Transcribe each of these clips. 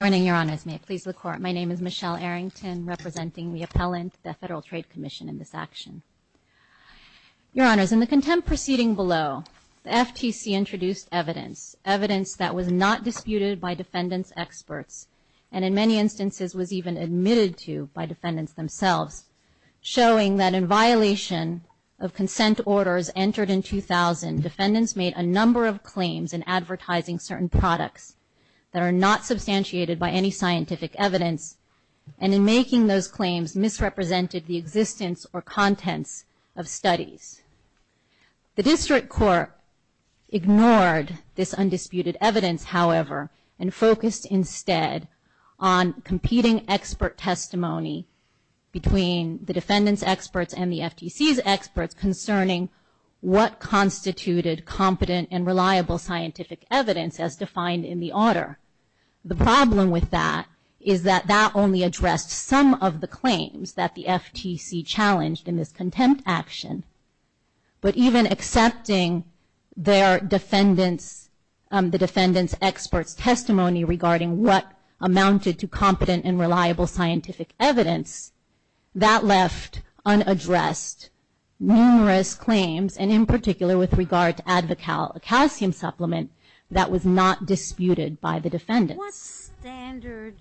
Good morning, Your Honors. May it please the Court, my name is Michelle Arrington, representing the appellant, the Federal Trade Commission, in this action. Your Honors, in the contempt proceeding below, the FTC introduced evidence, evidence that was not disputed by defendants' experts, and in many instances was even admitted to by defendants themselves, showing that in violation of consent orders entered in 2000, defendants made a number of claims in advertising certain products that are not substantiated by any scientific evidence, and in making those claims misrepresented the existence or contents of studies. The District Court ignored this undisputed evidence, however, and focused instead on competing expert testimony between the defendants' experts and the FTC's experts concerning what constituted competent and reliable scientific evidence as defined in the order. The problem with that is that that only addressed some of the claims that the FTC challenged in this contempt action, but even accepting their defendants, the defendants' experts' testimony regarding what amounted to competent and reliable scientific evidence, that left unaddressed numerous claims, and in particular with regard to AdvoCal, a calcium supplement that was not disputed by the defendants. What standard,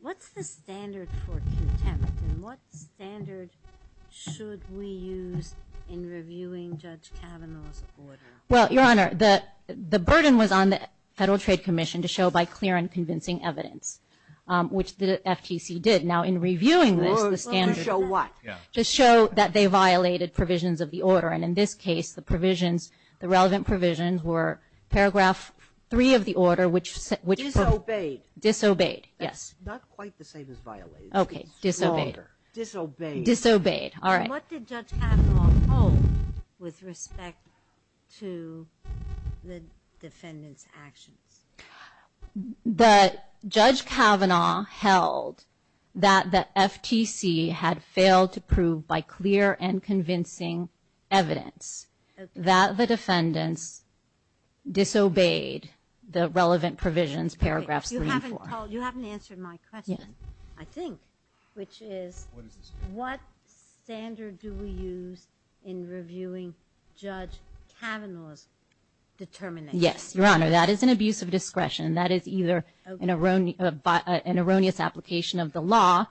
what's the standard for contempt, and what standard should we use in reviewing Judge Kavanaugh's order? Well, Your Honor, the burden was on the Federal Trade Commission to show by clear and convincing evidence, which the FTC did. Now, in reviewing this, the standard... To show what? To show that they violated provisions of the order, and in this case, the provisions, the relevant provisions were paragraph three of the order, which... Disobeyed. Disobeyed, yes. That's not quite the same as violated. Okay, disobeyed. Disobeyed. Disobeyed, all right. What did Judge Kavanaugh hold with respect to the defendants' actions? That Judge Kavanaugh held that the FTC had failed to prove by clear and convincing evidence that the defendants disobeyed the relevant provisions paragraph three and four. You haven't told, you haven't answered my question, I think, which is... What is this? What standard do we use in reviewing Judge Kavanaugh's determination? Yes, Your Honor, that is an abuse of discretion. That is either an erroneous application of the law,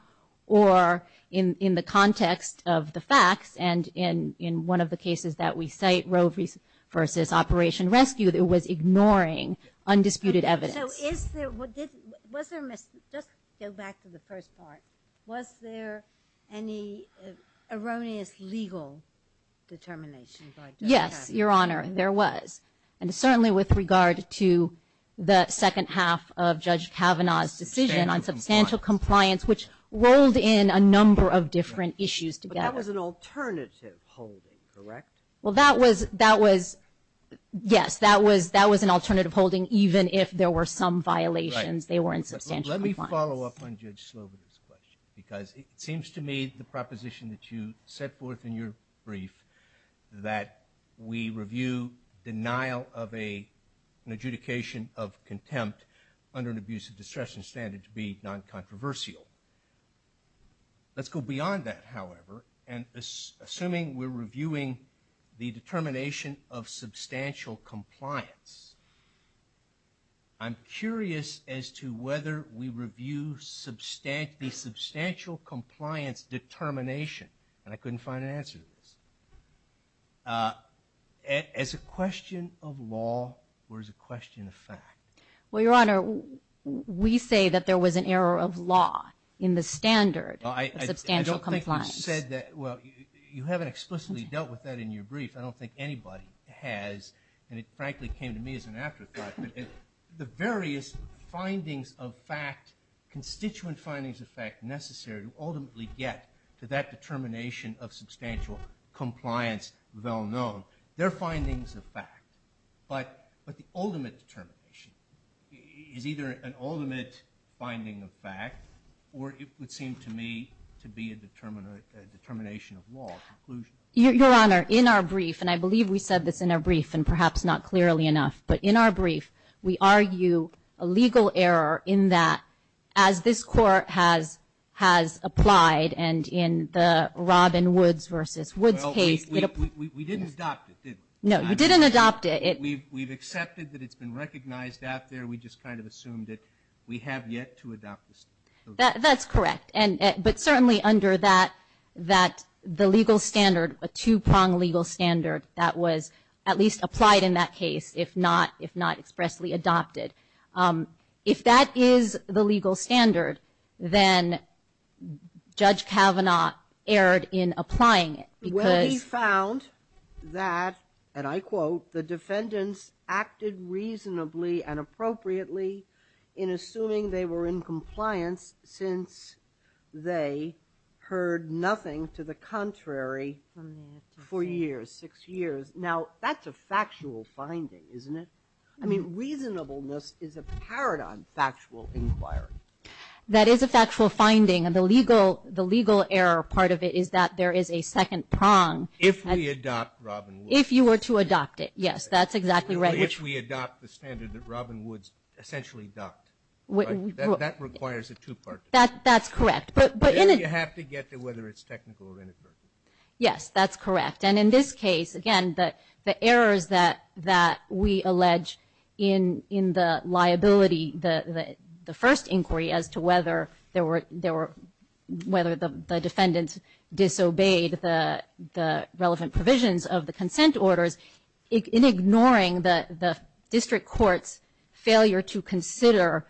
or in the context of the facts, and in one of the cases that we cite, Roe v. Operation Rescue, it was ignoring undisputed evidence. So is there, was there, just go back to the question, was there any erroneous legal determination by Judge Kavanaugh? Yes, Your Honor, there was. And certainly with regard to the second half of Judge Kavanaugh's decision on substantial compliance, which rolled in a number of different issues together. But that was an alternative holding, correct? Well, that was, that was, yes, that was, that was an alternative holding, even if there were some violations, they were in substantial compliance. Let me follow up on Judge Slobodin's question, because it seems to me the proposition that you set forth in your brief, that we review denial of a, an adjudication of contempt under an abuse of discretion standard to be non-controversial. Let's go beyond that, however, and assuming we're reviewing the determination of substantial compliance, I'm curious as to whether we review substantial, the substantial compliance determination, and I couldn't find an answer to this, as a question of law, or as a question of fact? Well, Your Honor, we say that there was an error of law in the standard of substantial compliance. I don't think you said that, well, you haven't explicitly dealt with that in your brief. I don't think anybody has, and it frankly came to me as an afterthought, that the various findings of fact, constituent findings of fact necessary to ultimately get to that determination of substantial compliance, well known, they're findings of fact. But, but the ultimate determination is either an ultimate finding of fact, or it would seem to me to be a determina, a determination of law, a conclusion. Your Honor, in our brief, and I believe we said this in our brief, and perhaps not clearly enough, but in our brief, we argue a legal error in that, as this Court has, has applied, and in the Robin Woods versus Woods case, it, we, we, we didn't adopt it, did we? No, you didn't adopt it. We've, we've accepted that it's been recognized out there, we just kind of assumed it. We have yet to adopt this. That, that's correct, and, but certainly under that, that the legal standard, a two-pronged legal standard that was at least applied in that case, if not, if not expressly adopted. If that is the legal standard, then Judge Kavanaugh erred in applying it, because Well, we found that, and I quote, the defendants acted reasonably and appropriately in assuming they were in compliance, since they heard nothing to the contrary for years, six years. Now, that's a factual finding, isn't it? I mean, reasonableness is a paradigm factual inquiry. That is a factual finding, and the legal, the legal error part of it is that there is a second prong. If we adopt Robin Woods. If you were to adopt it, yes, that's exactly right. If we adopt the standard that Robin Woods essentially adopted, that requires a two-pronged. That, that's correct, but, but in a There you have to get to whether it's technical or inadvertent. Yes, that's correct, and in this case, again, the, the errors that, that we allege in, in the liability, the, the, the first inquiry as to whether there were, there were, whether the, the defendants disobeyed the, the relevant provisions of the consent orders, in ignoring the, the district court's failure to consider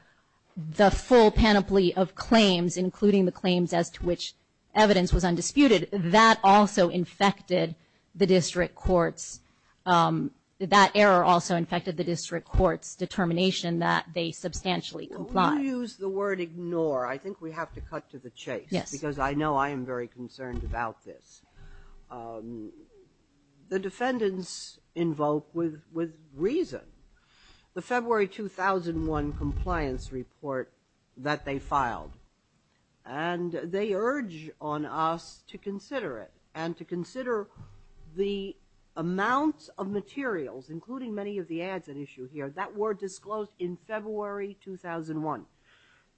the full panoply of claims, including the claims as to which evidence was undisputed, that also infected the district courts. That error also infected the district court's determination that they substantially complied. Well, when you use the word ignore, I think we have to cut to the chase. Yes. Because I know I am very concerned about this. The defendants invoke with, with reason the February 2001 compliance report that they filed, and they urge on us to consider it and to consider the amounts of materials, including many of the ads at issue here, that were disclosed in February 2001.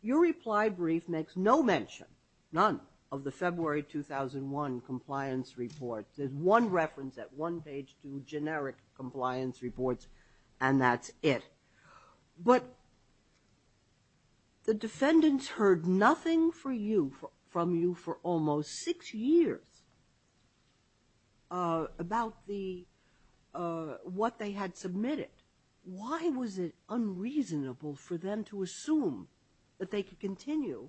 Your reply brief makes no mention, none, of the February 2001 compliance report. There's one reference at one page to generic compliance reports, and that's it. But the defendants heard nothing for you, from you for almost six years about the, what they had submitted. Why was it unreasonable for them to assume that they could continue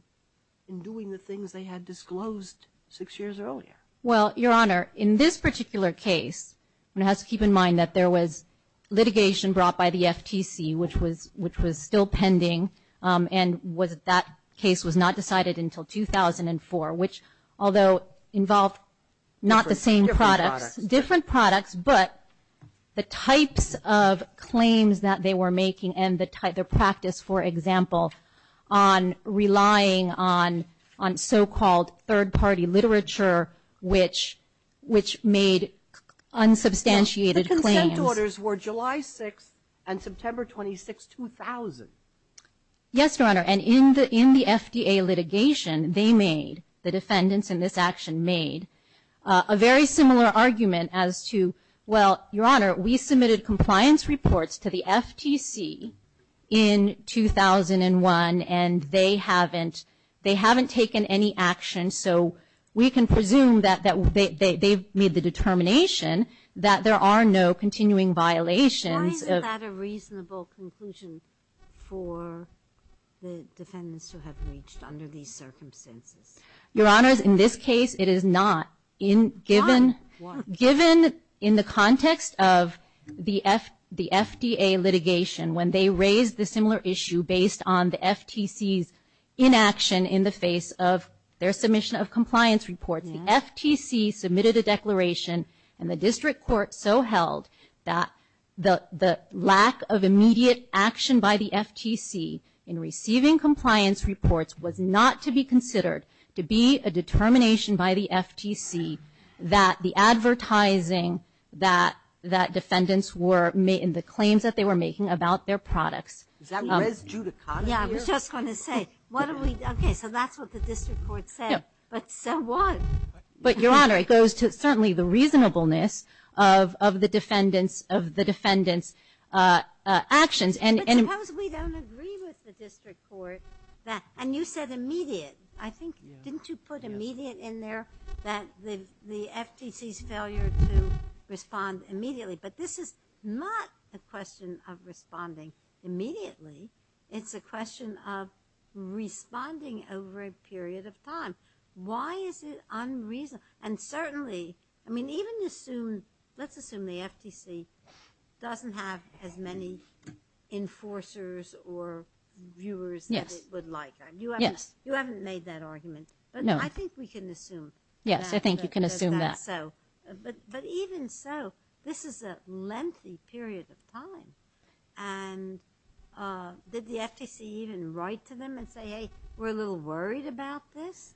in doing the things they had disclosed six years earlier? Well, Your Honor, in this particular case, one has to keep in mind that there was litigation brought by the FTC, which was, which was still pending, and was, that case was not decided until 2004, which, although involved not the same products, different products, but the types of claims that they were making and the type of practice, for example, on relying on, on so-called third-party literature, which, which made unsubstantiated claims. The consent orders were July 6th and September 26th, 2000. Yes, Your Honor, and in the, in the FDA litigation, they made, the defendants in this action made, a very similar argument as to, well, Your Honor, we submitted compliance reports to the FTC in 2001, and they haven't, they haven't taken any action, so we can presume that, that they, they, they've made the determination that there are no continuing violations of the FTC. Is that a reasonable conclusion for the defendants who have reached under these circumstances? Your Honor, in this case, it is not, in, given, given in the context of the F, the FDA litigation, when they raised the similar issue based on the FTC's inaction in the face of their submission of compliance reports, the FTC submitted a declaration, and the district court so held that the, the lack of immediate action by the FTC in receiving compliance reports was not to be considered to be a determination by the FTC that the advertising that, that defendants were made, and the claims that they were making about their products. Is that res judicata here? Yeah, I was just going to say, what are we, okay, so that's what the district court said. Yeah. But so what? But Your Honor, it goes to certainly the reasonableness of, of the defendants, of the defendants actions and, and. But suppose we don't agree with the district court that, and you said immediate, I think, didn't you put immediate in there that the, the FTC's failure to respond immediately, but this is not a question of responding immediately, it's a question of responding over a period of time. Why is it unreasonable? And certainly, I mean, even assume, let's assume the FTC doesn't have as many enforcers or viewers. Yes. That it would like. Yes. You haven't, you haven't made that argument. No. But I think we can assume that. Yes, I think you can assume that. So, but, but even so, this is a lengthy period of time, and did the FTC even write to them and say, hey, we're a little worried about this?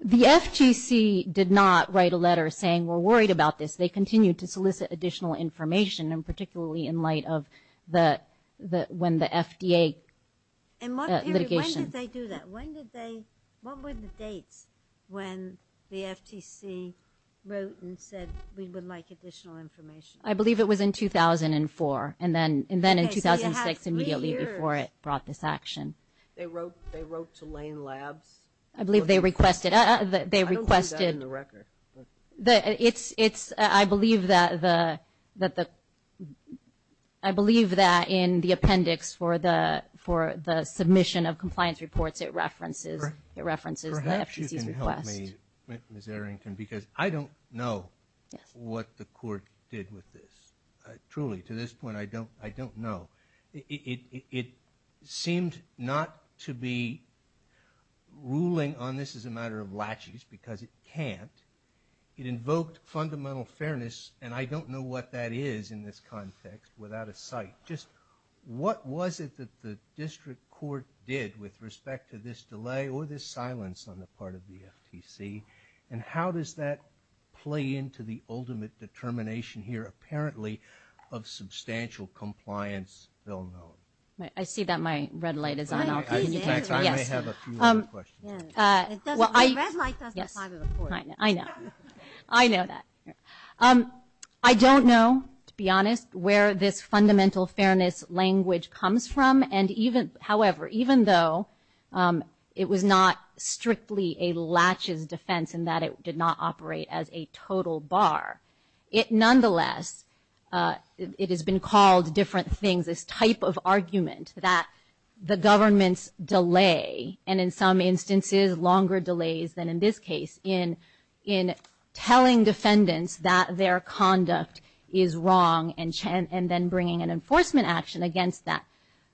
The FTC did not write a letter saying we're worried about this. They continued to solicit additional information, and particularly in light of the, the, when the FDA litigation. And what period, when did they do that? When did they, what were the dates when the FTC wrote and said we would like additional information? I believe it was in 2004, and then, and then in 2006 immediately before it brought this action. They wrote, they wrote to Lane Labs. I believe they requested, they requested. I don't believe that in the record. It's, it's, I believe that the, that the, I believe that in the appendix for the, for the submission of compliance reports, it references, it references the FTC's request. Perhaps you can help me, Ms. Errington, because I don't know what the court did with this. Truly, to this point, I don't, I don't know. It, it, it seemed not to be ruling on this as a matter of latches, because it can't. It invoked fundamental fairness, and I don't know what that is in this context without a sight. Just what was it that the district court did with respect to this delay or this silence on the part of the FTC, and how does that play into the ultimate determination here apparently of substantial compliance ill known? I see that my red light is on. Can you answer? Yes. In fact, I may have a few other questions. Yes. It doesn't, the red light doesn't apply to the court. Yes. I know. I know that. I don't know, to be honest, where this fundamental fairness language comes from, and even, however, even though it was not strictly a latches defense in that it did not operate as a total bar, it nonetheless, it, it has been called different things, this type of argument that the government's delay, and in some instances longer delays than in this case, in, in telling defendants that their conduct is wrong and, and then bringing an enforcement action against that.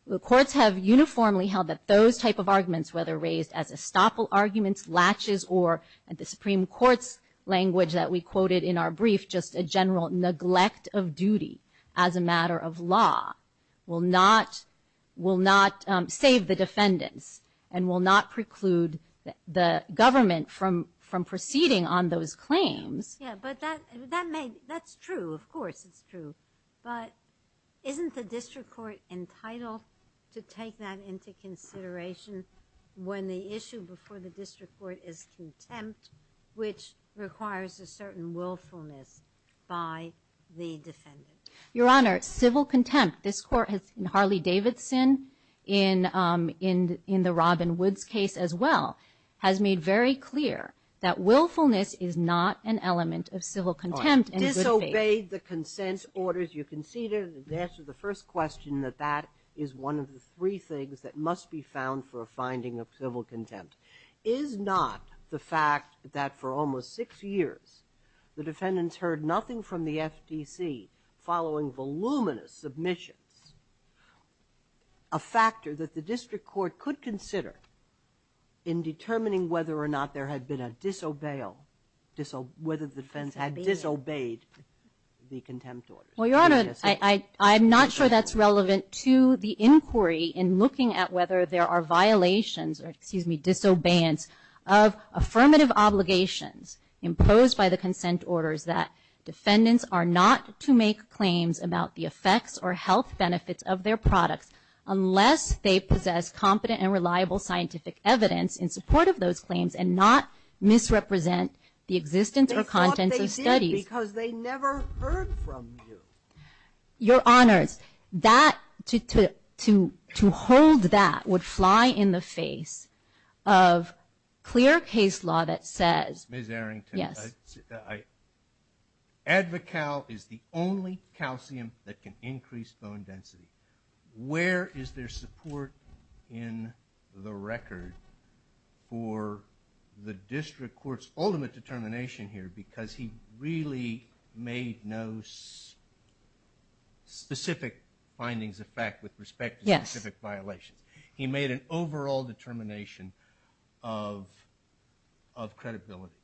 The courts have uniformly held that those type of arguments, whether raised as estoppel arguments, latches, or at the Supreme Court's language that we quoted in our brief, just a general neglect of duty as a matter of law will not, will not save the defendants and will not preclude the government from, from proceeding on those claims. Yeah, but that, that may, that's true. Of course it's true, but isn't the district court entitled to take that into consideration when the issue before the district court is contempt, which requires a certain willfulness by the defendant? Your Honor, civil contempt, this court has, in Harley-Davidson, in, in, in the Robin Woods case as well, has made very clear that willfulness is not an element of civil contempt in good faith. All right, disobeyed the consent orders, you conceded and answered the first question that is one of the three things that must be found for a finding of civil contempt. Is not the fact that for almost six years the defendants heard nothing from the FTC following voluminous submissions a factor that the district court could consider in determining whether or not there had been a disobeyal, disobey, whether the defense had disobeyed the contempt orders? Well, Your Honor, I, I, I'm not sure that's relevant to the inquiry in looking at whether there are violations or, excuse me, disobeyance of affirmative obligations imposed by the consent orders that defendants are not to make claims about the effects or health benefits of their products unless they possess competent and reliable scientific evidence in support of those claims and not misrepresent the existence or contents of studies. Because they never heard from you. Your Honors, that, to, to, to, to hold that would fly in the face of clear case law that says. Ms. Arrington. Yes. I, I, Advocal is the only calcium that can increase bone density. Where is there support in the record for the district court's ultimate determination here? Because he really made no specific findings of fact with respect to specific violations. Yes. He made an overall determination of, of credibility.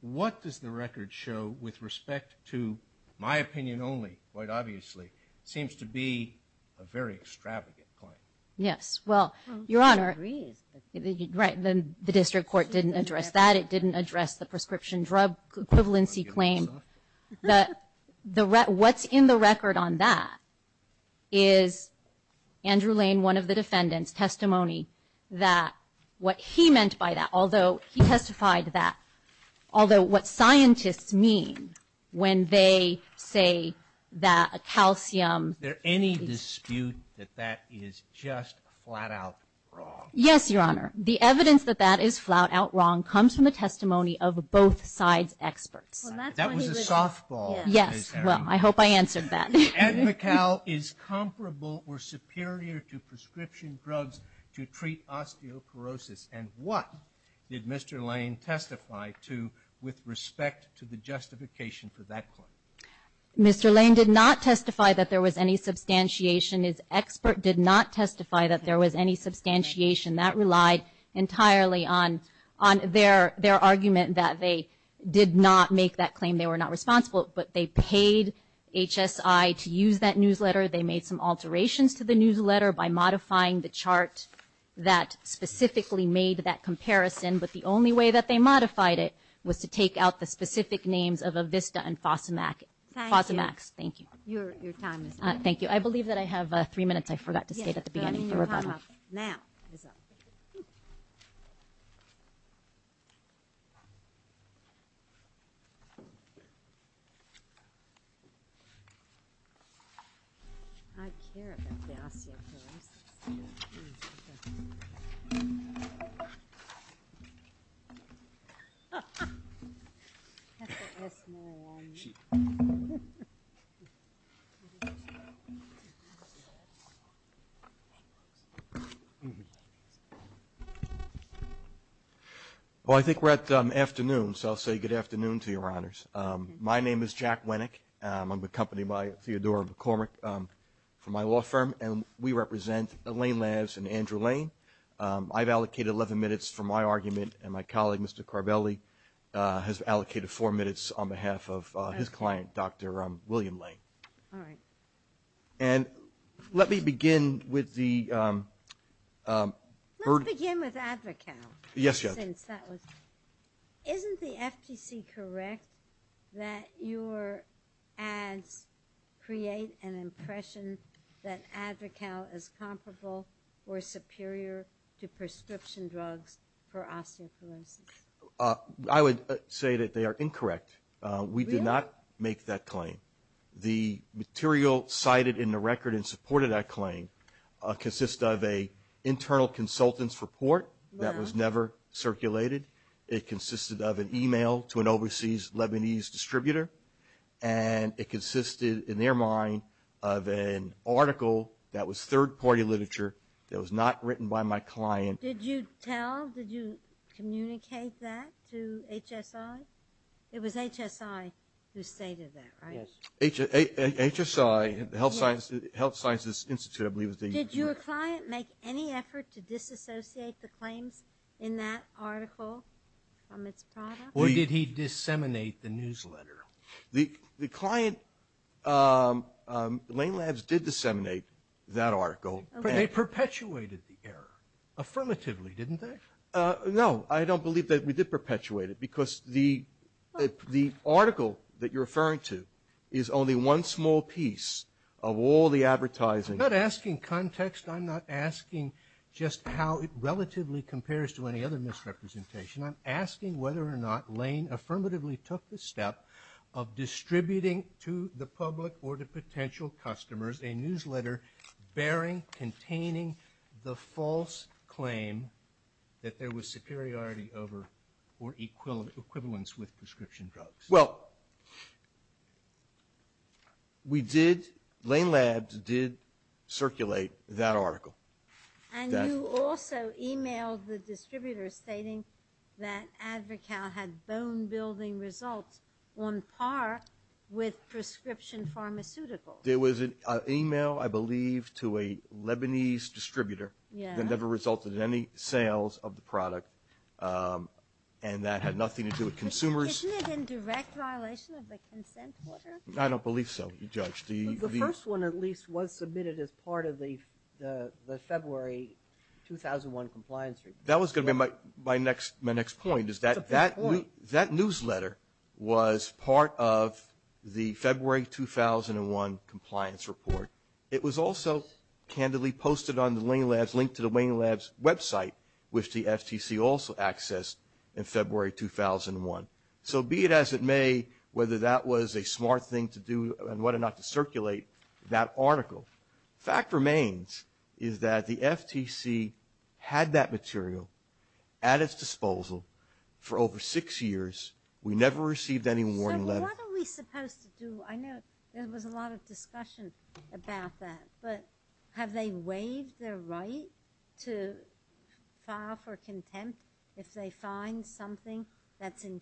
What does the record show with respect to, my opinion only, quite obviously, seems to be a very extravagant claim. Yes. Well, Your Honor. Well, who agrees? Right. Then the district court didn't address that. It didn't address the prescription drug equivalency claim. The, what's in the record on that is Andrew Lane, one of the defendants, testimony that what he meant by that, although he testified that, although what scientists mean when they say that a calcium. Is there any dispute that that is just flat out wrong? Yes, Your Honor. The evidence that that is flat out wrong comes from the testimony of both sides' experts. That was a softball. Yes. Well, I hope I answered that. Advocal is comparable or superior to prescription drugs to treat osteoporosis. And what did Mr. Lane testify to with respect to the justification for that claim? Mr. Lane did not testify that there was any substantiation. His expert did not testify that there was any substantiation. That relied entirely on their argument that they did not make that claim. They were not responsible. But they paid HSI to use that newsletter. They made some alterations to the newsletter by modifying the chart that specifically made that comparison. But the only way that they modified it was to take out the specific names of Avista and Fosamax. Thank you. Fosamax. Thank you. Your time is up. Thank you. I believe that I have three minutes. I forgot to say that at the beginning of the rebuttal. Yes. Your time is up. Now. It is up. I care about the osteoporosis. Ha, ha. That's more alarming. Well, I think we're at afternoon, so I'll say good afternoon to your honors. My name is Jack Winnick. I'm accompanied by Theodora McCormick from my law firm. And we represent Elaine Laves and Andrew Lane. I've allocated 11 minutes for my argument. And my colleague, Mr. Carbelli, has allocated four minutes on behalf of his client, Dr. William Lane. All right. And let me begin with the burden. Let's begin with Advocal. Yes, Your Honor. Isn't the FTC correct that your ads create an impression that Advocal is comparable or superior to prescription drugs for osteoporosis? I would say that they are incorrect. Really? We do not make that claim. The material cited in the record in support of that claim consists of an internal consultant's report that was never circulated. It consisted of an email to an overseas Lebanese distributor. And it consisted, in their mind, of an article that was third-party literature that was not written by my client. Did you tell, did you communicate that to HSI? It was HSI who stated that, right? HSI, Health Sciences Institute, I believe. Did your client make any effort to disassociate the claims in that article from its product? Or did he disseminate the newsletter? The client, Lane Labs, did disseminate that article. But they perpetuated the error, affirmatively, didn't they? No, I don't believe that we did perpetuate it. Because the article that you're referring to is only one small piece of all the advertising. I'm not asking context. I'm not asking just how it relatively compares to any other misrepresentation. I'm asking whether or not Lane affirmatively took the step of distributing to the public or to potential customers a newsletter bearing, containing the false claim that there was superiority over or equivalence with prescription drugs. Well, we did, Lane Labs did circulate that article. And you also emailed the distributor stating that Advocale had bone-building results on par with prescription pharmaceuticals. There was an email, I believe, to a Lebanese distributor that never resulted in any sales of the product. And that had nothing to do with consumers. Isn't it in direct violation of the consent order? I don't believe so, Judge. The first one, at least, was submitted as part of the February 2001 compliance report. That was going to be my next point. That newsletter was part of the February 2001 compliance report. It was also candidly posted on the Lane Labs, linked to the Lane Labs website, which the FTC also accessed in February 2001. So be it as it may, whether that was a smart thing to do and whether or not to circulate that article, fact remains is that the FTC had that material at its disposal. For over six years, we never received any warning letter. So what are we supposed to do? I know there was a lot of discussion about that. But have they waived their right to file for contempt if they find something that's in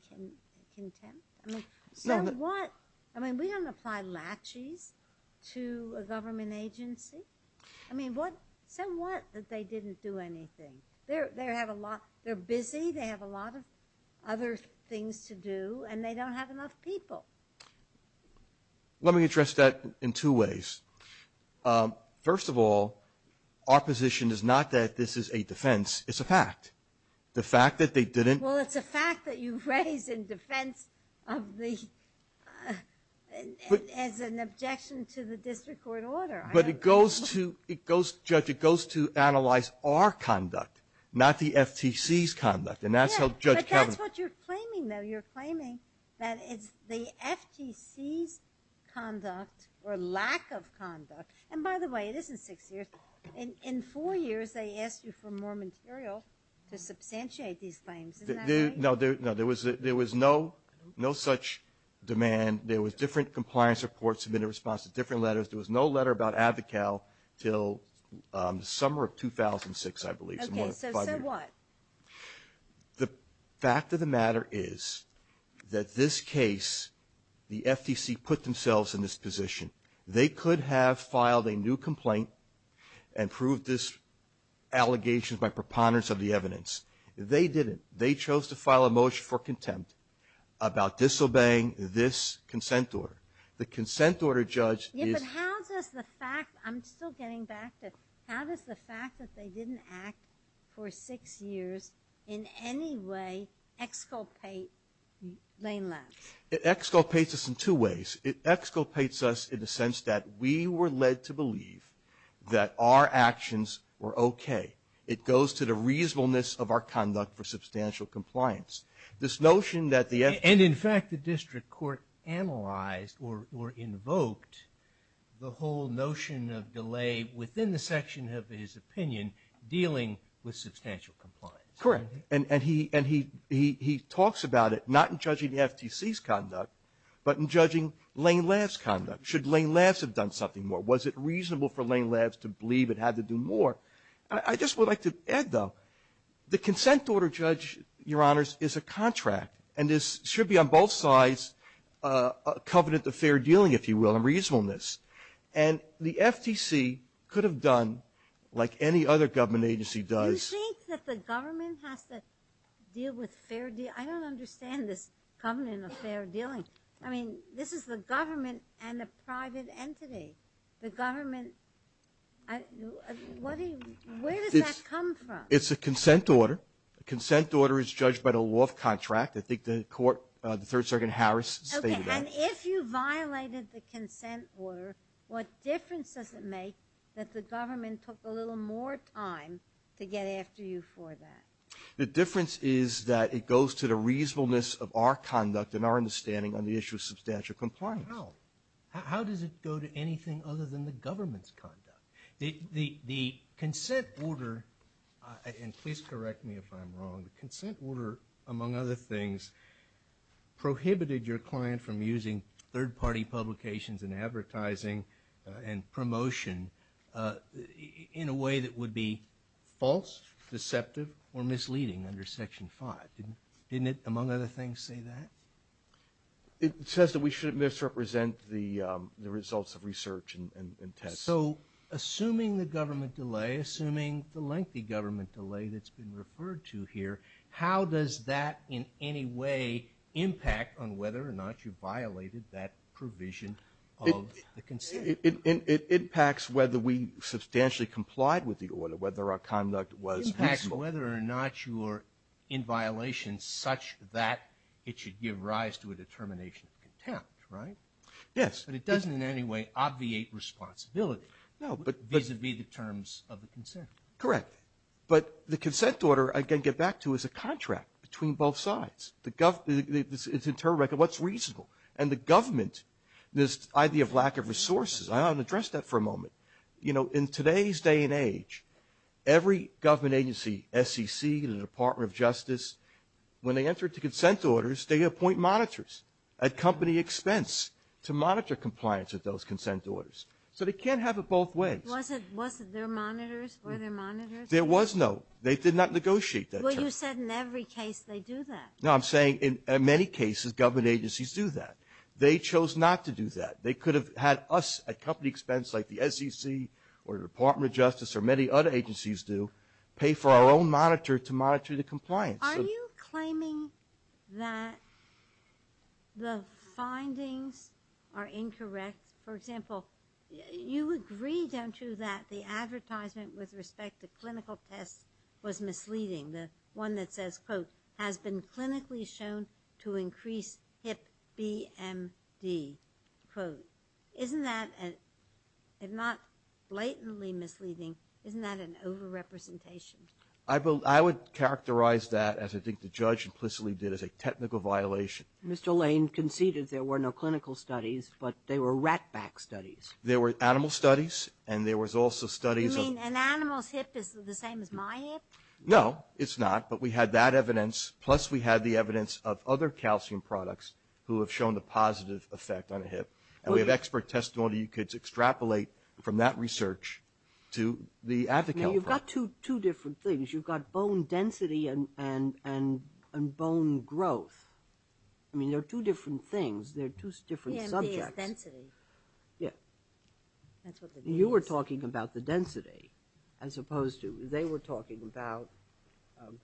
contempt? I mean, so what? I mean, we don't apply laches to a government agency. I mean, so what that they didn't do anything? They're busy. They have a lot of other things to do. And they don't have enough people. Let me address that in two ways. First of all, our position is not that this is a defense. It's a fact. The fact that they didn't. Well, it's a fact that you raised in defense of the, as an objection to the district court order. But it goes to, it goes, Judge, it goes to analyze our conduct. Not the FTC's conduct. And that's how Judge Kavanaugh. Yeah, but that's what you're claiming though. You're claiming that it's the FTC's conduct or lack of conduct. And by the way, it isn't six years. In four years, they asked you for more material to substantiate these claims. Isn't that right? No, there was no such demand. There was different compliance reports submitted in response to different letters. There was no letter about Advocale till the summer of 2006, I believe. So what? The fact of the matter is that this case, the FTC put themselves in this position. They could have filed a new complaint and proved this allegation by preponderance of the evidence. They didn't. They chose to file a motion for contempt about disobeying this consent order. The consent order, Judge, is. Yeah, but how does the fact, I'm still getting back to, how does the fact that they didn't act for six years in any way exculpate Lane Left? It exculpates us in two ways. It exculpates us in the sense that we were led to believe that our actions were okay. It goes to the reasonableness of our conduct for substantial compliance. This notion that the FTC. And in fact, the district court analyzed or invoked the whole notion of delay within the district court's opinion dealing with substantial compliance. Correct. And he talks about it not in judging the FTC's conduct, but in judging Lane Left's conduct. Should Lane Left have done something more? Was it reasonable for Lane Left to believe it had to do more? I just would like to add, though, the consent order, Judge, Your Honors, is a contract. And this should be on both sides a covenant of fair dealing, if you will, and reasonableness. And the FTC could have done like any other government agency does. You think that the government has to deal with fair deal? I don't understand this covenant of fair dealing. I mean, this is the government and a private entity. The government, what do you, where does that come from? It's a consent order. A consent order is judged by the law of contract. I think the court, the Third Circuit Harris stated that. And if you violated the consent order, what difference does it make that the government took a little more time to get after you for that? The difference is that it goes to the reasonableness of our conduct and our understanding on the issue of substantial compliance. How? How does it go to anything other than the government's conduct? The consent order, and please correct me if I'm wrong, the consent order, among other things, prohibited your client from using third-party publications and advertising and promotion in a way that would be false, deceptive, or misleading under Section 5. Didn't it, among other things, say that? It says that we shouldn't misrepresent the results of research and tests. So assuming the government delay, assuming the lengthy government delay that's been referred to here, how does that in any way impact on whether or not you violated that provision of the consent? It impacts whether we substantially complied with the order, whether our conduct was peaceful. It impacts whether or not you are in violation such that it should give rise to a determination of contempt, right? Yes. But it doesn't in any way obviate responsibility vis-à-vis the terms of the consent. Correct. But the consent order, I can get back to, is a contract between both sides. It's internal record. What's reasonable? And the government, this idea of lack of resources, I'll address that for a moment. In today's day and age, every government agency, SEC, the Department of Justice, when they enter into consent orders, they appoint monitors at company expense to monitor compliance with those consent orders. So they can't have it both ways. Was it their monitors or their monitors? There was no. They did not negotiate that term. Well, you said in every case they do that. No, I'm saying in many cases government agencies do that. They chose not to do that. They could have had us at company expense like the SEC or the Department of Justice or many other agencies do pay for our own monitor to monitor the compliance. Are you claiming that the findings are incorrect? For example, you agree, don't you, that the advertisement with respect to clinical tests was misleading? The one that says, quote, has been clinically shown to increase hip BMD, quote. Isn't that, if not blatantly misleading, isn't that an overrepresentation? I would characterize that, as I think the judge implicitly did, as a technical violation. Mr. Lane conceded there were no clinical studies, but they were ratback studies. There were animal studies, and there was also studies of You mean an animal's hip is the same as my hip? No, it's not. But we had that evidence, plus we had the evidence of other calcium products who have shown a positive effect on a hip. And we have expert testimony you could extrapolate from that research to the Advocale product. You've got two different things. You've got bone density and bone growth. I mean, they're two different things. They're two different subjects. BMD is density. Yeah. That's what the name is. You were talking about the density, as opposed to they were talking about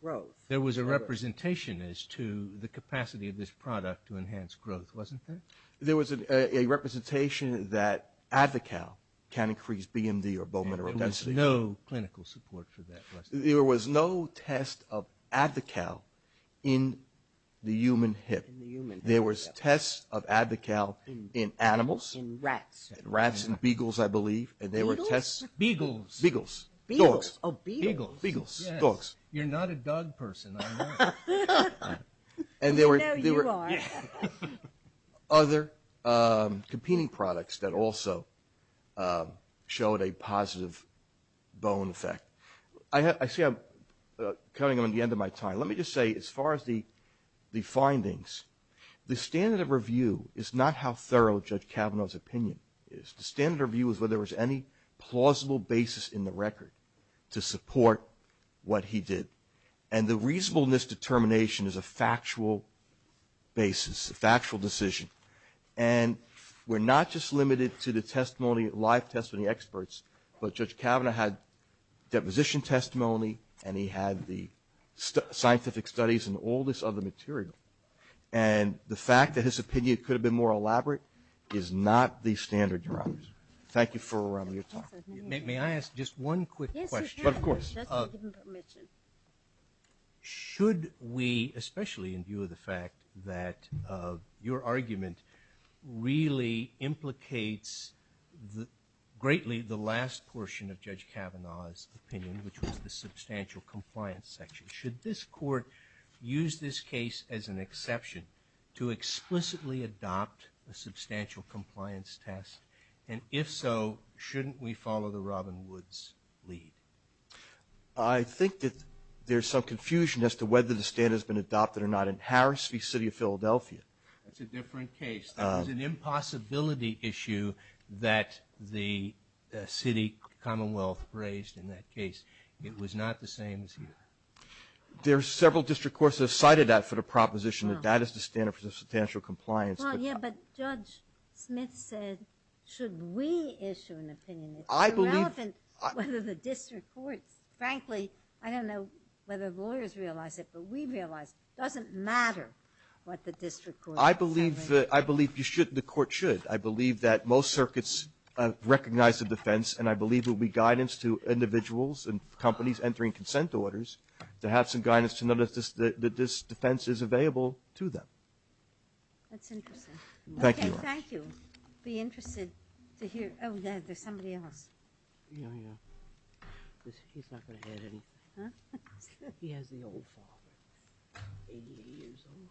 growth. There was a representation as to the capacity of this product to enhance growth, wasn't there? There was a representation that Advocale can increase BMD or bone mineral density. There was no clinical support for that. There was no test of Advocale in the human hip. In the human hip. There was tests of Advocale in animals. In rats. Rats and beagles, I believe. Beagles? Beagles. Beagles. Beagles. Dogs. Oh, beagles. Beagles. Dogs. You're not a dog person, I know. We know you are. Other competing products that also showed a positive bone effect. I see I'm cutting on the end of my time. Let me just say, as far as the findings, the standard of review is not how thorough Judge Kavanaugh's opinion is. The standard of review is whether there was any plausible basis in the record to support what he did. And the reasonableness determination is a factual basis, a factual decision. And we're not just limited to the testimony, live testimony experts, but Judge Kavanaugh had deposition testimony and he had the scientific studies and all this other material. And the fact that his opinion could have been more elaborate is not the standard, Your Honor. Thank you for your time. Yes, Your Honor. Of course. Should we, especially in view of the fact that your argument really implicates, greatly, the last portion of Judge Kavanaugh's opinion, which was the substantial compliance section, should this Court use this case as an exception to explicitly adopt a substantial compliance test? And if so, shouldn't we follow the Robin Woods lead? I think that there's some confusion as to whether the standard has been adopted or not in Harris v. City of Philadelphia. That's a different case. That was an impossibility issue that the city commonwealth raised in that case. It was not the same as here. There are several district courts that have cited that for the proposition that that is the standard for substantial compliance. Well, yeah, but Judge Smith said, should we issue an opinion? It's irrelevant whether the district courts, frankly, I don't know whether the lawyers realize it, but we realize it. It doesn't matter what the district courts say. I believe the Court should. I believe that most circuits recognize the defense and I believe there will be guidance to individuals and companies entering consent orders to have some guidance to notice that this defense is available to them. That's interesting. Thank you. Okay, thank you. I'd be interested to hear, oh, there's somebody else. Yeah, yeah. He's not going to have anything. Huh? He has the old father. 88 years old.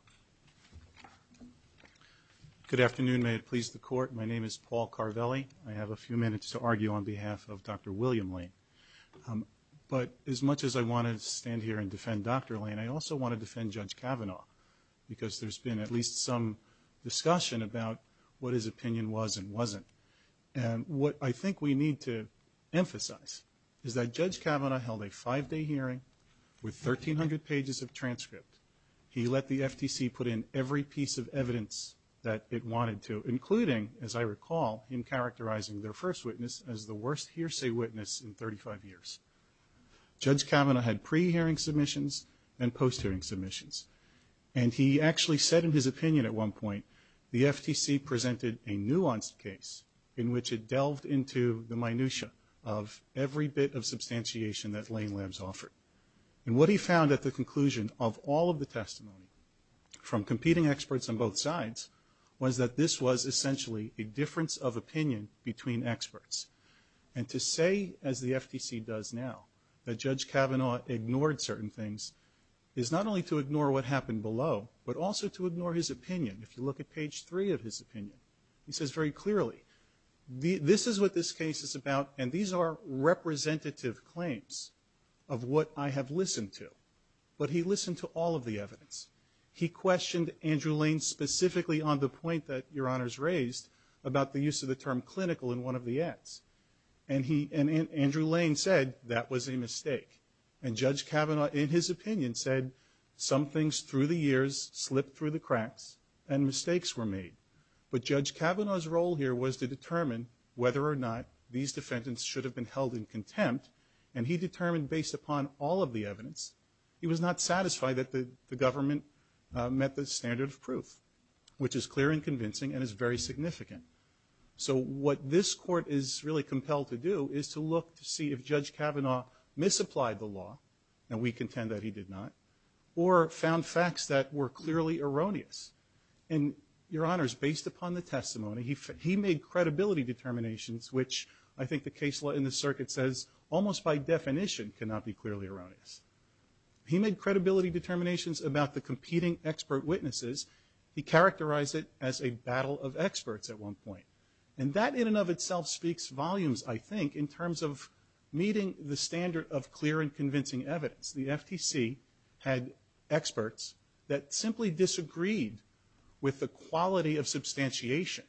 Good afternoon. May it please the Court. My name is Paul Carvelli. I have a few minutes to argue on behalf of Dr. William Lane. But as much as I want to stand here and defend Dr. Lane, I also want to defend Judge Kavanaugh because there's been at least some discussion about what his opinion was and wasn't. And what I think we need to emphasize is that Judge Kavanaugh held a five-day hearing with 1,300 pages of transcript. He let the FTC put in every piece of evidence that it wanted to, including, as I recall, in characterizing their first witness as the worst hearsay witness in 35 years. Judge Kavanaugh had pre-hearing submissions and post-hearing submissions. And he actually said in his opinion at one point, the FTC presented a nuanced case in which it delved into the minutia of every bit of substantiation that Lane Labs offered. And what he found at the conclusion of all of the testimony from competing experts on both sides was that this was essentially a difference of opinion between experts. And to say, as the FTC does now, that Judge Kavanaugh ignored certain things, is not only to ignore what happened below, but also to ignore his opinion. If you look at page three of his opinion, he says very clearly, this is what this case is about and these are representative claims of what I have listened to. But he listened to all of the evidence. He questioned Andrew Lane specifically on the point that Your Honors raised about the use of the term clinical in one of the ads. And Andrew Lane said, that was a mistake. And Judge Kavanaugh in his opinion said, some things through the years slipped through the cracks and mistakes were made. But Judge Kavanaugh's role here was to determine whether or not these defendants should have been held in contempt. And he determined based upon all of the evidence, he was not satisfied that the government met the standard of proof. Which is clear and convincing and is very significant. So what this court is really compelled to do is to look to see if Judge Kavanaugh misapplied the law, and we contend that he did not. Or found facts that were clearly erroneous. And Your Honors, based upon the testimony, he made credibility determinations, which I think the case law in the circuit says, almost by definition cannot be clearly erroneous. He made credibility determinations about the competing expert witnesses he characterized it as a battle of experts at one point. And that in and of itself speaks volumes, I think, in terms of meeting the standard of clear and convincing evidence. The FTC had experts that simply disagreed with the quality of substantiation.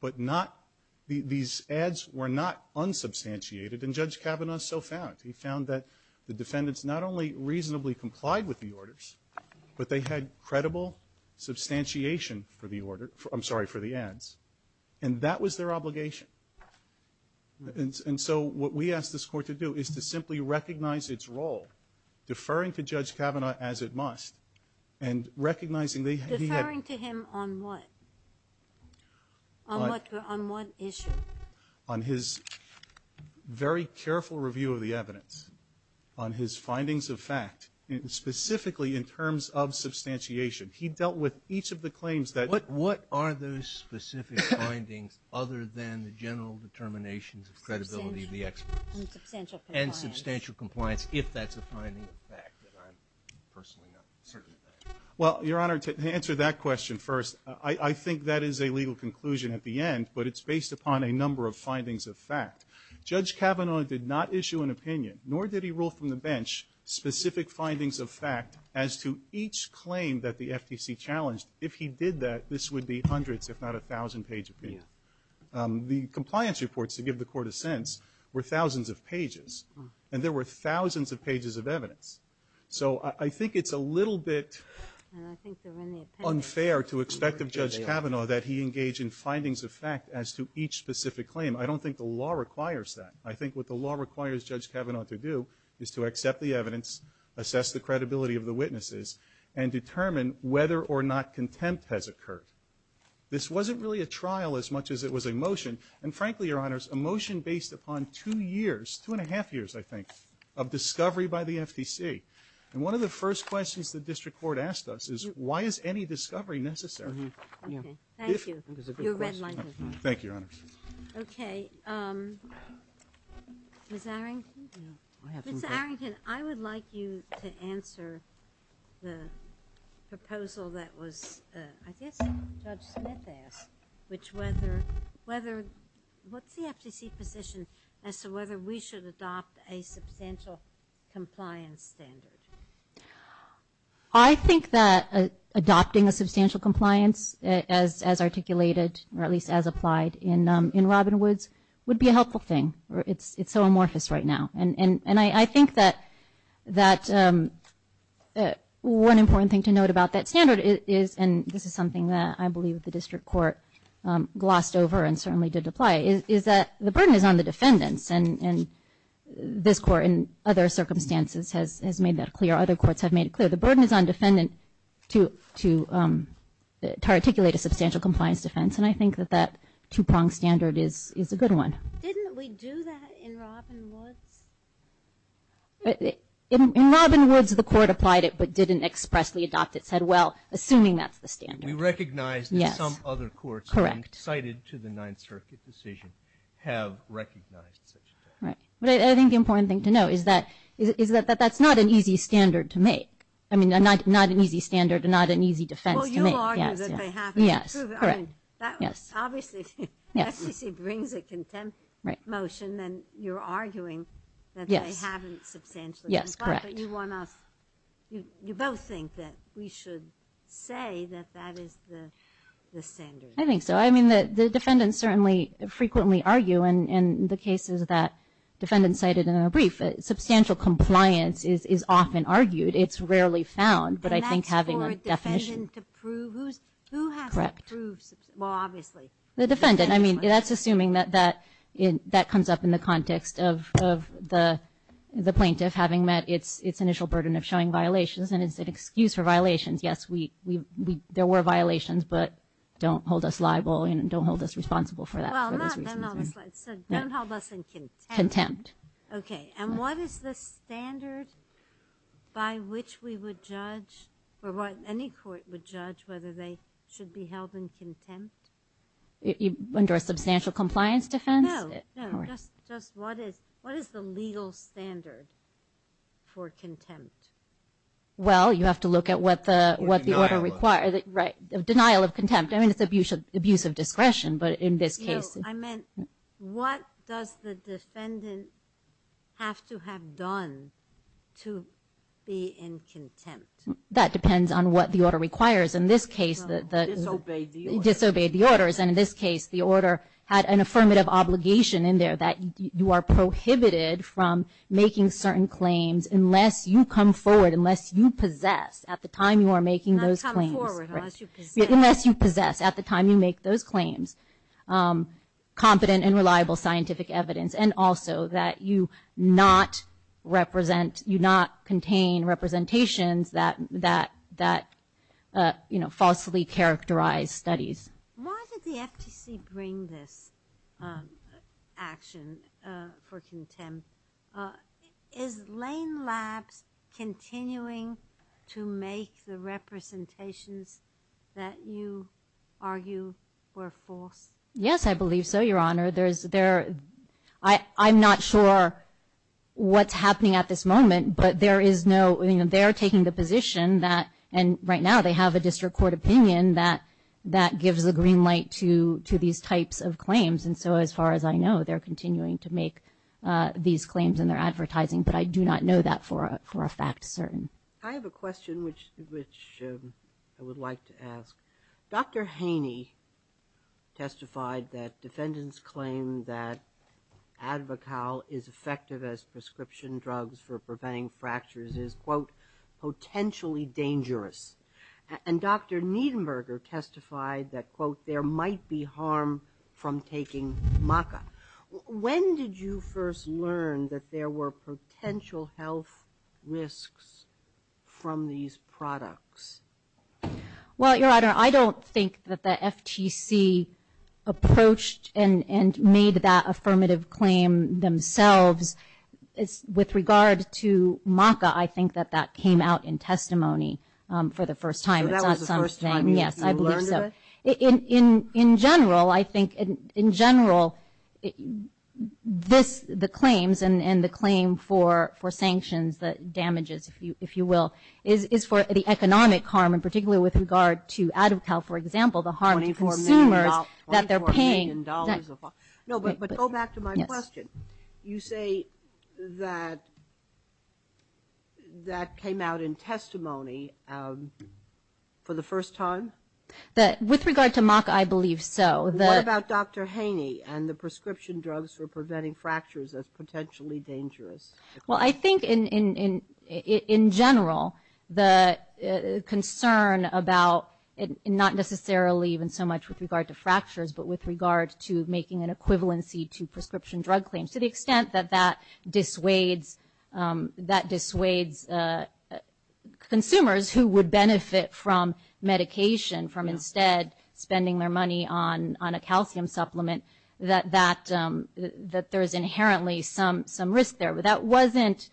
But not, these ads were not unsubstantiated. And Judge Kavanaugh so found. He found that the defendants not only reasonably complied with the orders, but they had credible substantiation for the order, I'm sorry, for the ads. And that was their obligation. And so what we asked this court to do is to simply recognize its role, deferring to Judge Kavanaugh as it must, and recognizing that he had. Deferring to him on what? On what issue? On his very careful review of the evidence. On his findings of fact. Specifically in terms of substantiation. He dealt with each of the claims that. What are those specific findings other than the general determinations of credibility of the experts? And substantial compliance. And substantial compliance, if that's a finding of fact that I'm personally not certain of that. Well, Your Honor, to answer that question first, I think that is a legal conclusion at the end. But it's based upon a number of findings of fact. Judge Kavanaugh did not issue an opinion. Nor did he rule from the bench specific findings of fact as to each claim that the FTC challenged. If he did that, this would be hundreds, if not a thousand page opinion. The compliance reports, to give the court a sense, were thousands of pages. And there were thousands of pages of evidence. So I think it's a little bit unfair to expect of Judge Kavanaugh that he engage in findings of fact as to each specific claim. I don't think the law requires that. I think what the law requires Judge Kavanaugh to do is to accept the evidence. Assess the credibility of the witnesses. And determine whether or not contempt has occurred. This wasn't really a trial as much as it was a motion. And frankly, Your Honors, a motion based upon two years. Two and a half years, I think. Of discovery by the FTC. And one of the first questions the district court asked us is why is any discovery necessary? Okay. Thank you. Your red line has moved. Thank you, Your Honors. Okay. Ms. Arrington? Ms. Arrington, I would like you to answer the proposal that was, I guess, Judge Smith asked. Which whether, what's the FTC position as to whether we should adopt a substantial compliance standard? I think that adopting a substantial compliance as articulated or at least as applied in Robinwoods would be a helpful thing. It's so amorphous right now. And I think that one important thing to note about that standard is, and this is something that I believe the district court glossed over and certainly did apply, is that the burden is on the defendants. And this court, in other circumstances, has made that clear. Other courts have made it clear. The burden is on defendant to articulate a substantial compliance defense. And I think that that two-pronged standard is a good one. Didn't we do that in Robinwoods? In Robinwoods, the court applied it but didn't expressly adopt it. Said, well, assuming that's the standard. We recognize that some other courts cited to the Ninth Circuit decision have recognized Right. But I think the important thing to know is that that's not an easy standard to make. I mean, not an easy standard and not an easy defense to make. Well, you'll argue that they haven't. Yes. Correct. Yes. Obviously, if the FTC brings a contempt motion, then you're arguing that they haven't substantially Yes. Yes. Correct. But you both think that we should say that that is the standard. I think so. I mean, the defendants certainly frequently argue in the cases that defendants cited in our brief, substantial compliance is often argued. It's rarely found. And that's for a defendant to prove? Who has to prove? Correct. Well, obviously. The defendant. I mean, that's assuming that that comes up in the context of the plaintiff having met its initial burden of showing violations. And it's an excuse for violations. Yes, there were violations, but don't hold us liable and don't hold us responsible for that. So don't hold us in contempt. Contempt. Okay. And what is the standard by which we would judge or what any court would judge whether they should be held in contempt? Under a substantial compliance defense? No. No. Just what is the legal standard for contempt? Well, you have to look at what the order requires. Denial of contempt. Right. Denial of contempt. I mean, it's abuse of discretion. But in this case. I meant, what does the defendant have to have done to be in contempt? That depends on what the order requires. In this case, the. Disobeyed the order. Disobeyed the orders. And in this case, the order had an affirmative obligation in there that you are prohibited from making certain claims unless you come forward. Unless you possess at the time you are making those claims. Not come forward. Unless you possess. Unless you possess at the time you make those claims. Competent and reliable scientific evidence. And also that you not represent. You not contain representations that falsely characterize studies. Why did the FTC bring this action for contempt? Is Lane Labs continuing to make the representations that you argue were false? Yes, I believe so, Your Honor. I'm not sure what's happening at this moment. But there is no. They are taking the position that. And right now they have a district court opinion that gives a green light to these types of claims. And so as far as I know, they're continuing to make these claims in their advertising. But I do not know that for a fact certain. I have a question which I would like to ask. Dr. Haney testified that defendants claim that Advocal is effective as prescription drugs for preventing fractures is, quote, potentially dangerous. And Dr. Niedenberger testified that, quote, there might be harm from taking maca. When did you first learn that there were potential health risks from these products? Well, Your Honor, I don't think that the FTC approached and made that affirmative claim themselves. With regard to maca, I think that that came out in testimony for the first time. So that was the first time you learned of it? Yes, I believe so. In general, I think, in general, this, the claims and the claim for sanctions that damages, if you will, is for the economic harm, and particularly with regard to Advocal, for example, the harm to consumers that they're paying. Twenty-four million dollars. No, but go back to my question. You say that that came out in testimony for the first time? With regard to maca, I believe so. What about Dr. Haney and the prescription drugs for preventing fractures as potentially dangerous? Well, I think in general, the concern about, not necessarily even so much with regard to fractures, but with regard to making an equivalency to prescription drug claims, to the extent that that dissuades consumers who would benefit from medication, from instead spending their money on a calcium supplement, that there's inherently some risk there. That wasn't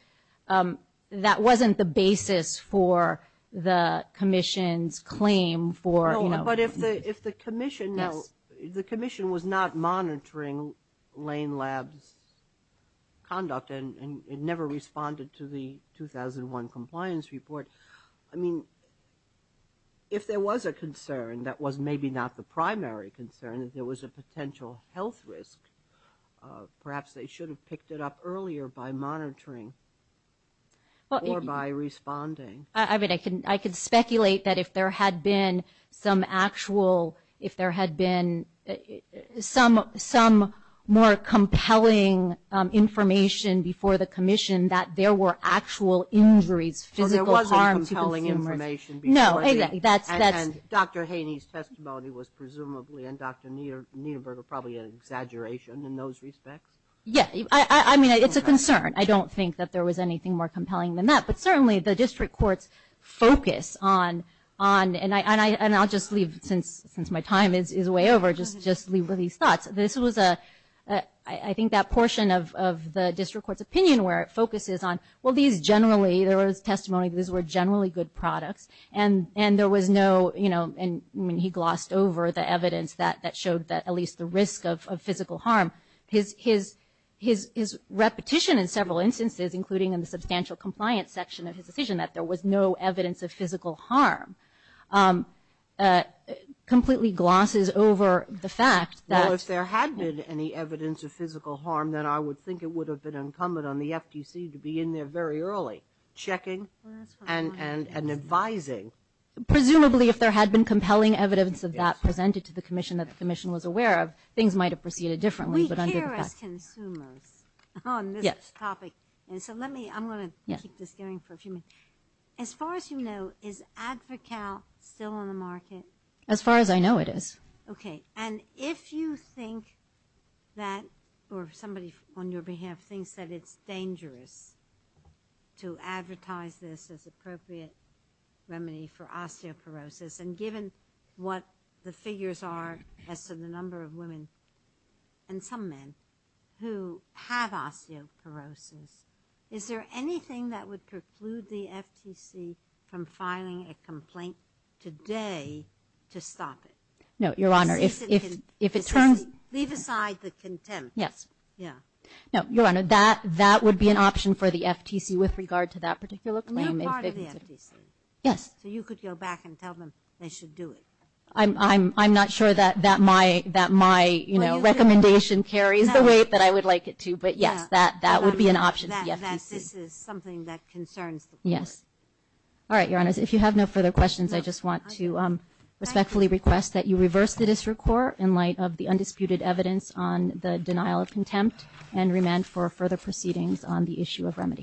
the basis for the Commission's claim for, you know. But if the Commission was not monitoring Lane Lab's conduct, and it never responded to the 2001 compliance report, I mean, if there was a concern that was maybe not the primary concern, if there was a potential health risk, perhaps they should have picked it up earlier by monitoring or by responding. I mean, I could speculate that if there had been some actual, if there had been some more compelling information before the Commission, that there were actual injuries, physical harm to consumers. So there wasn't compelling information before the, and Dr. Haney's testimony was presumably, and Dr. Niederberger probably an exaggeration in those respects? Yeah, I mean, it's a concern. I don't think that there was anything more compelling than that. But certainly the district court's focus on, and I'll just leave, since my time is way over, just leave with these thoughts. This was a, I think that portion of the district court's opinion where it focuses on, well, these generally, there was testimony that these were generally good products, and there was no, you know, and he glossed over the evidence that showed at least the risk of physical harm. His repetition in several instances, including in the substantial compliance section of his decision, that there was no evidence of physical harm, completely glosses over the fact that. Well, if there had been any evidence of physical harm, then I would think it would have been incumbent on the FTC to be in there very early, checking and advising. Presumably if there had been compelling evidence of that presented to the Commission and that the Commission was aware of, things might have proceeded differently. We care as consumers on this topic. So let me, I'm going to keep this going for a few minutes. As far as you know, is Advocal still on the market? As far as I know it is. Okay, and if you think that, or somebody on your behalf thinks that it's dangerous to advertise this as appropriate remedy for osteoporosis, and given what the figures are as to the number of women and some men who have osteoporosis, is there anything that would preclude the FTC from filing a complaint today to stop it? No, Your Honor, if it turns... Leave aside the contempt. Yes. Yeah. No, Your Honor, that would be an option for the FTC with regard to that particular claim. You're part of the FTC. Yes. So you could go back and tell them they should do it. I'm not sure that my recommendation carries the weight that I would like it to, but yes, that would be an option for the FTC. That this is something that concerns the Court. Yes. All right, Your Honor, if you have no further questions, I just want to respectfully request that you reverse the District Court in light of the undisputed evidence on the denial of contempt and remand for further proceedings on the issue of remedy.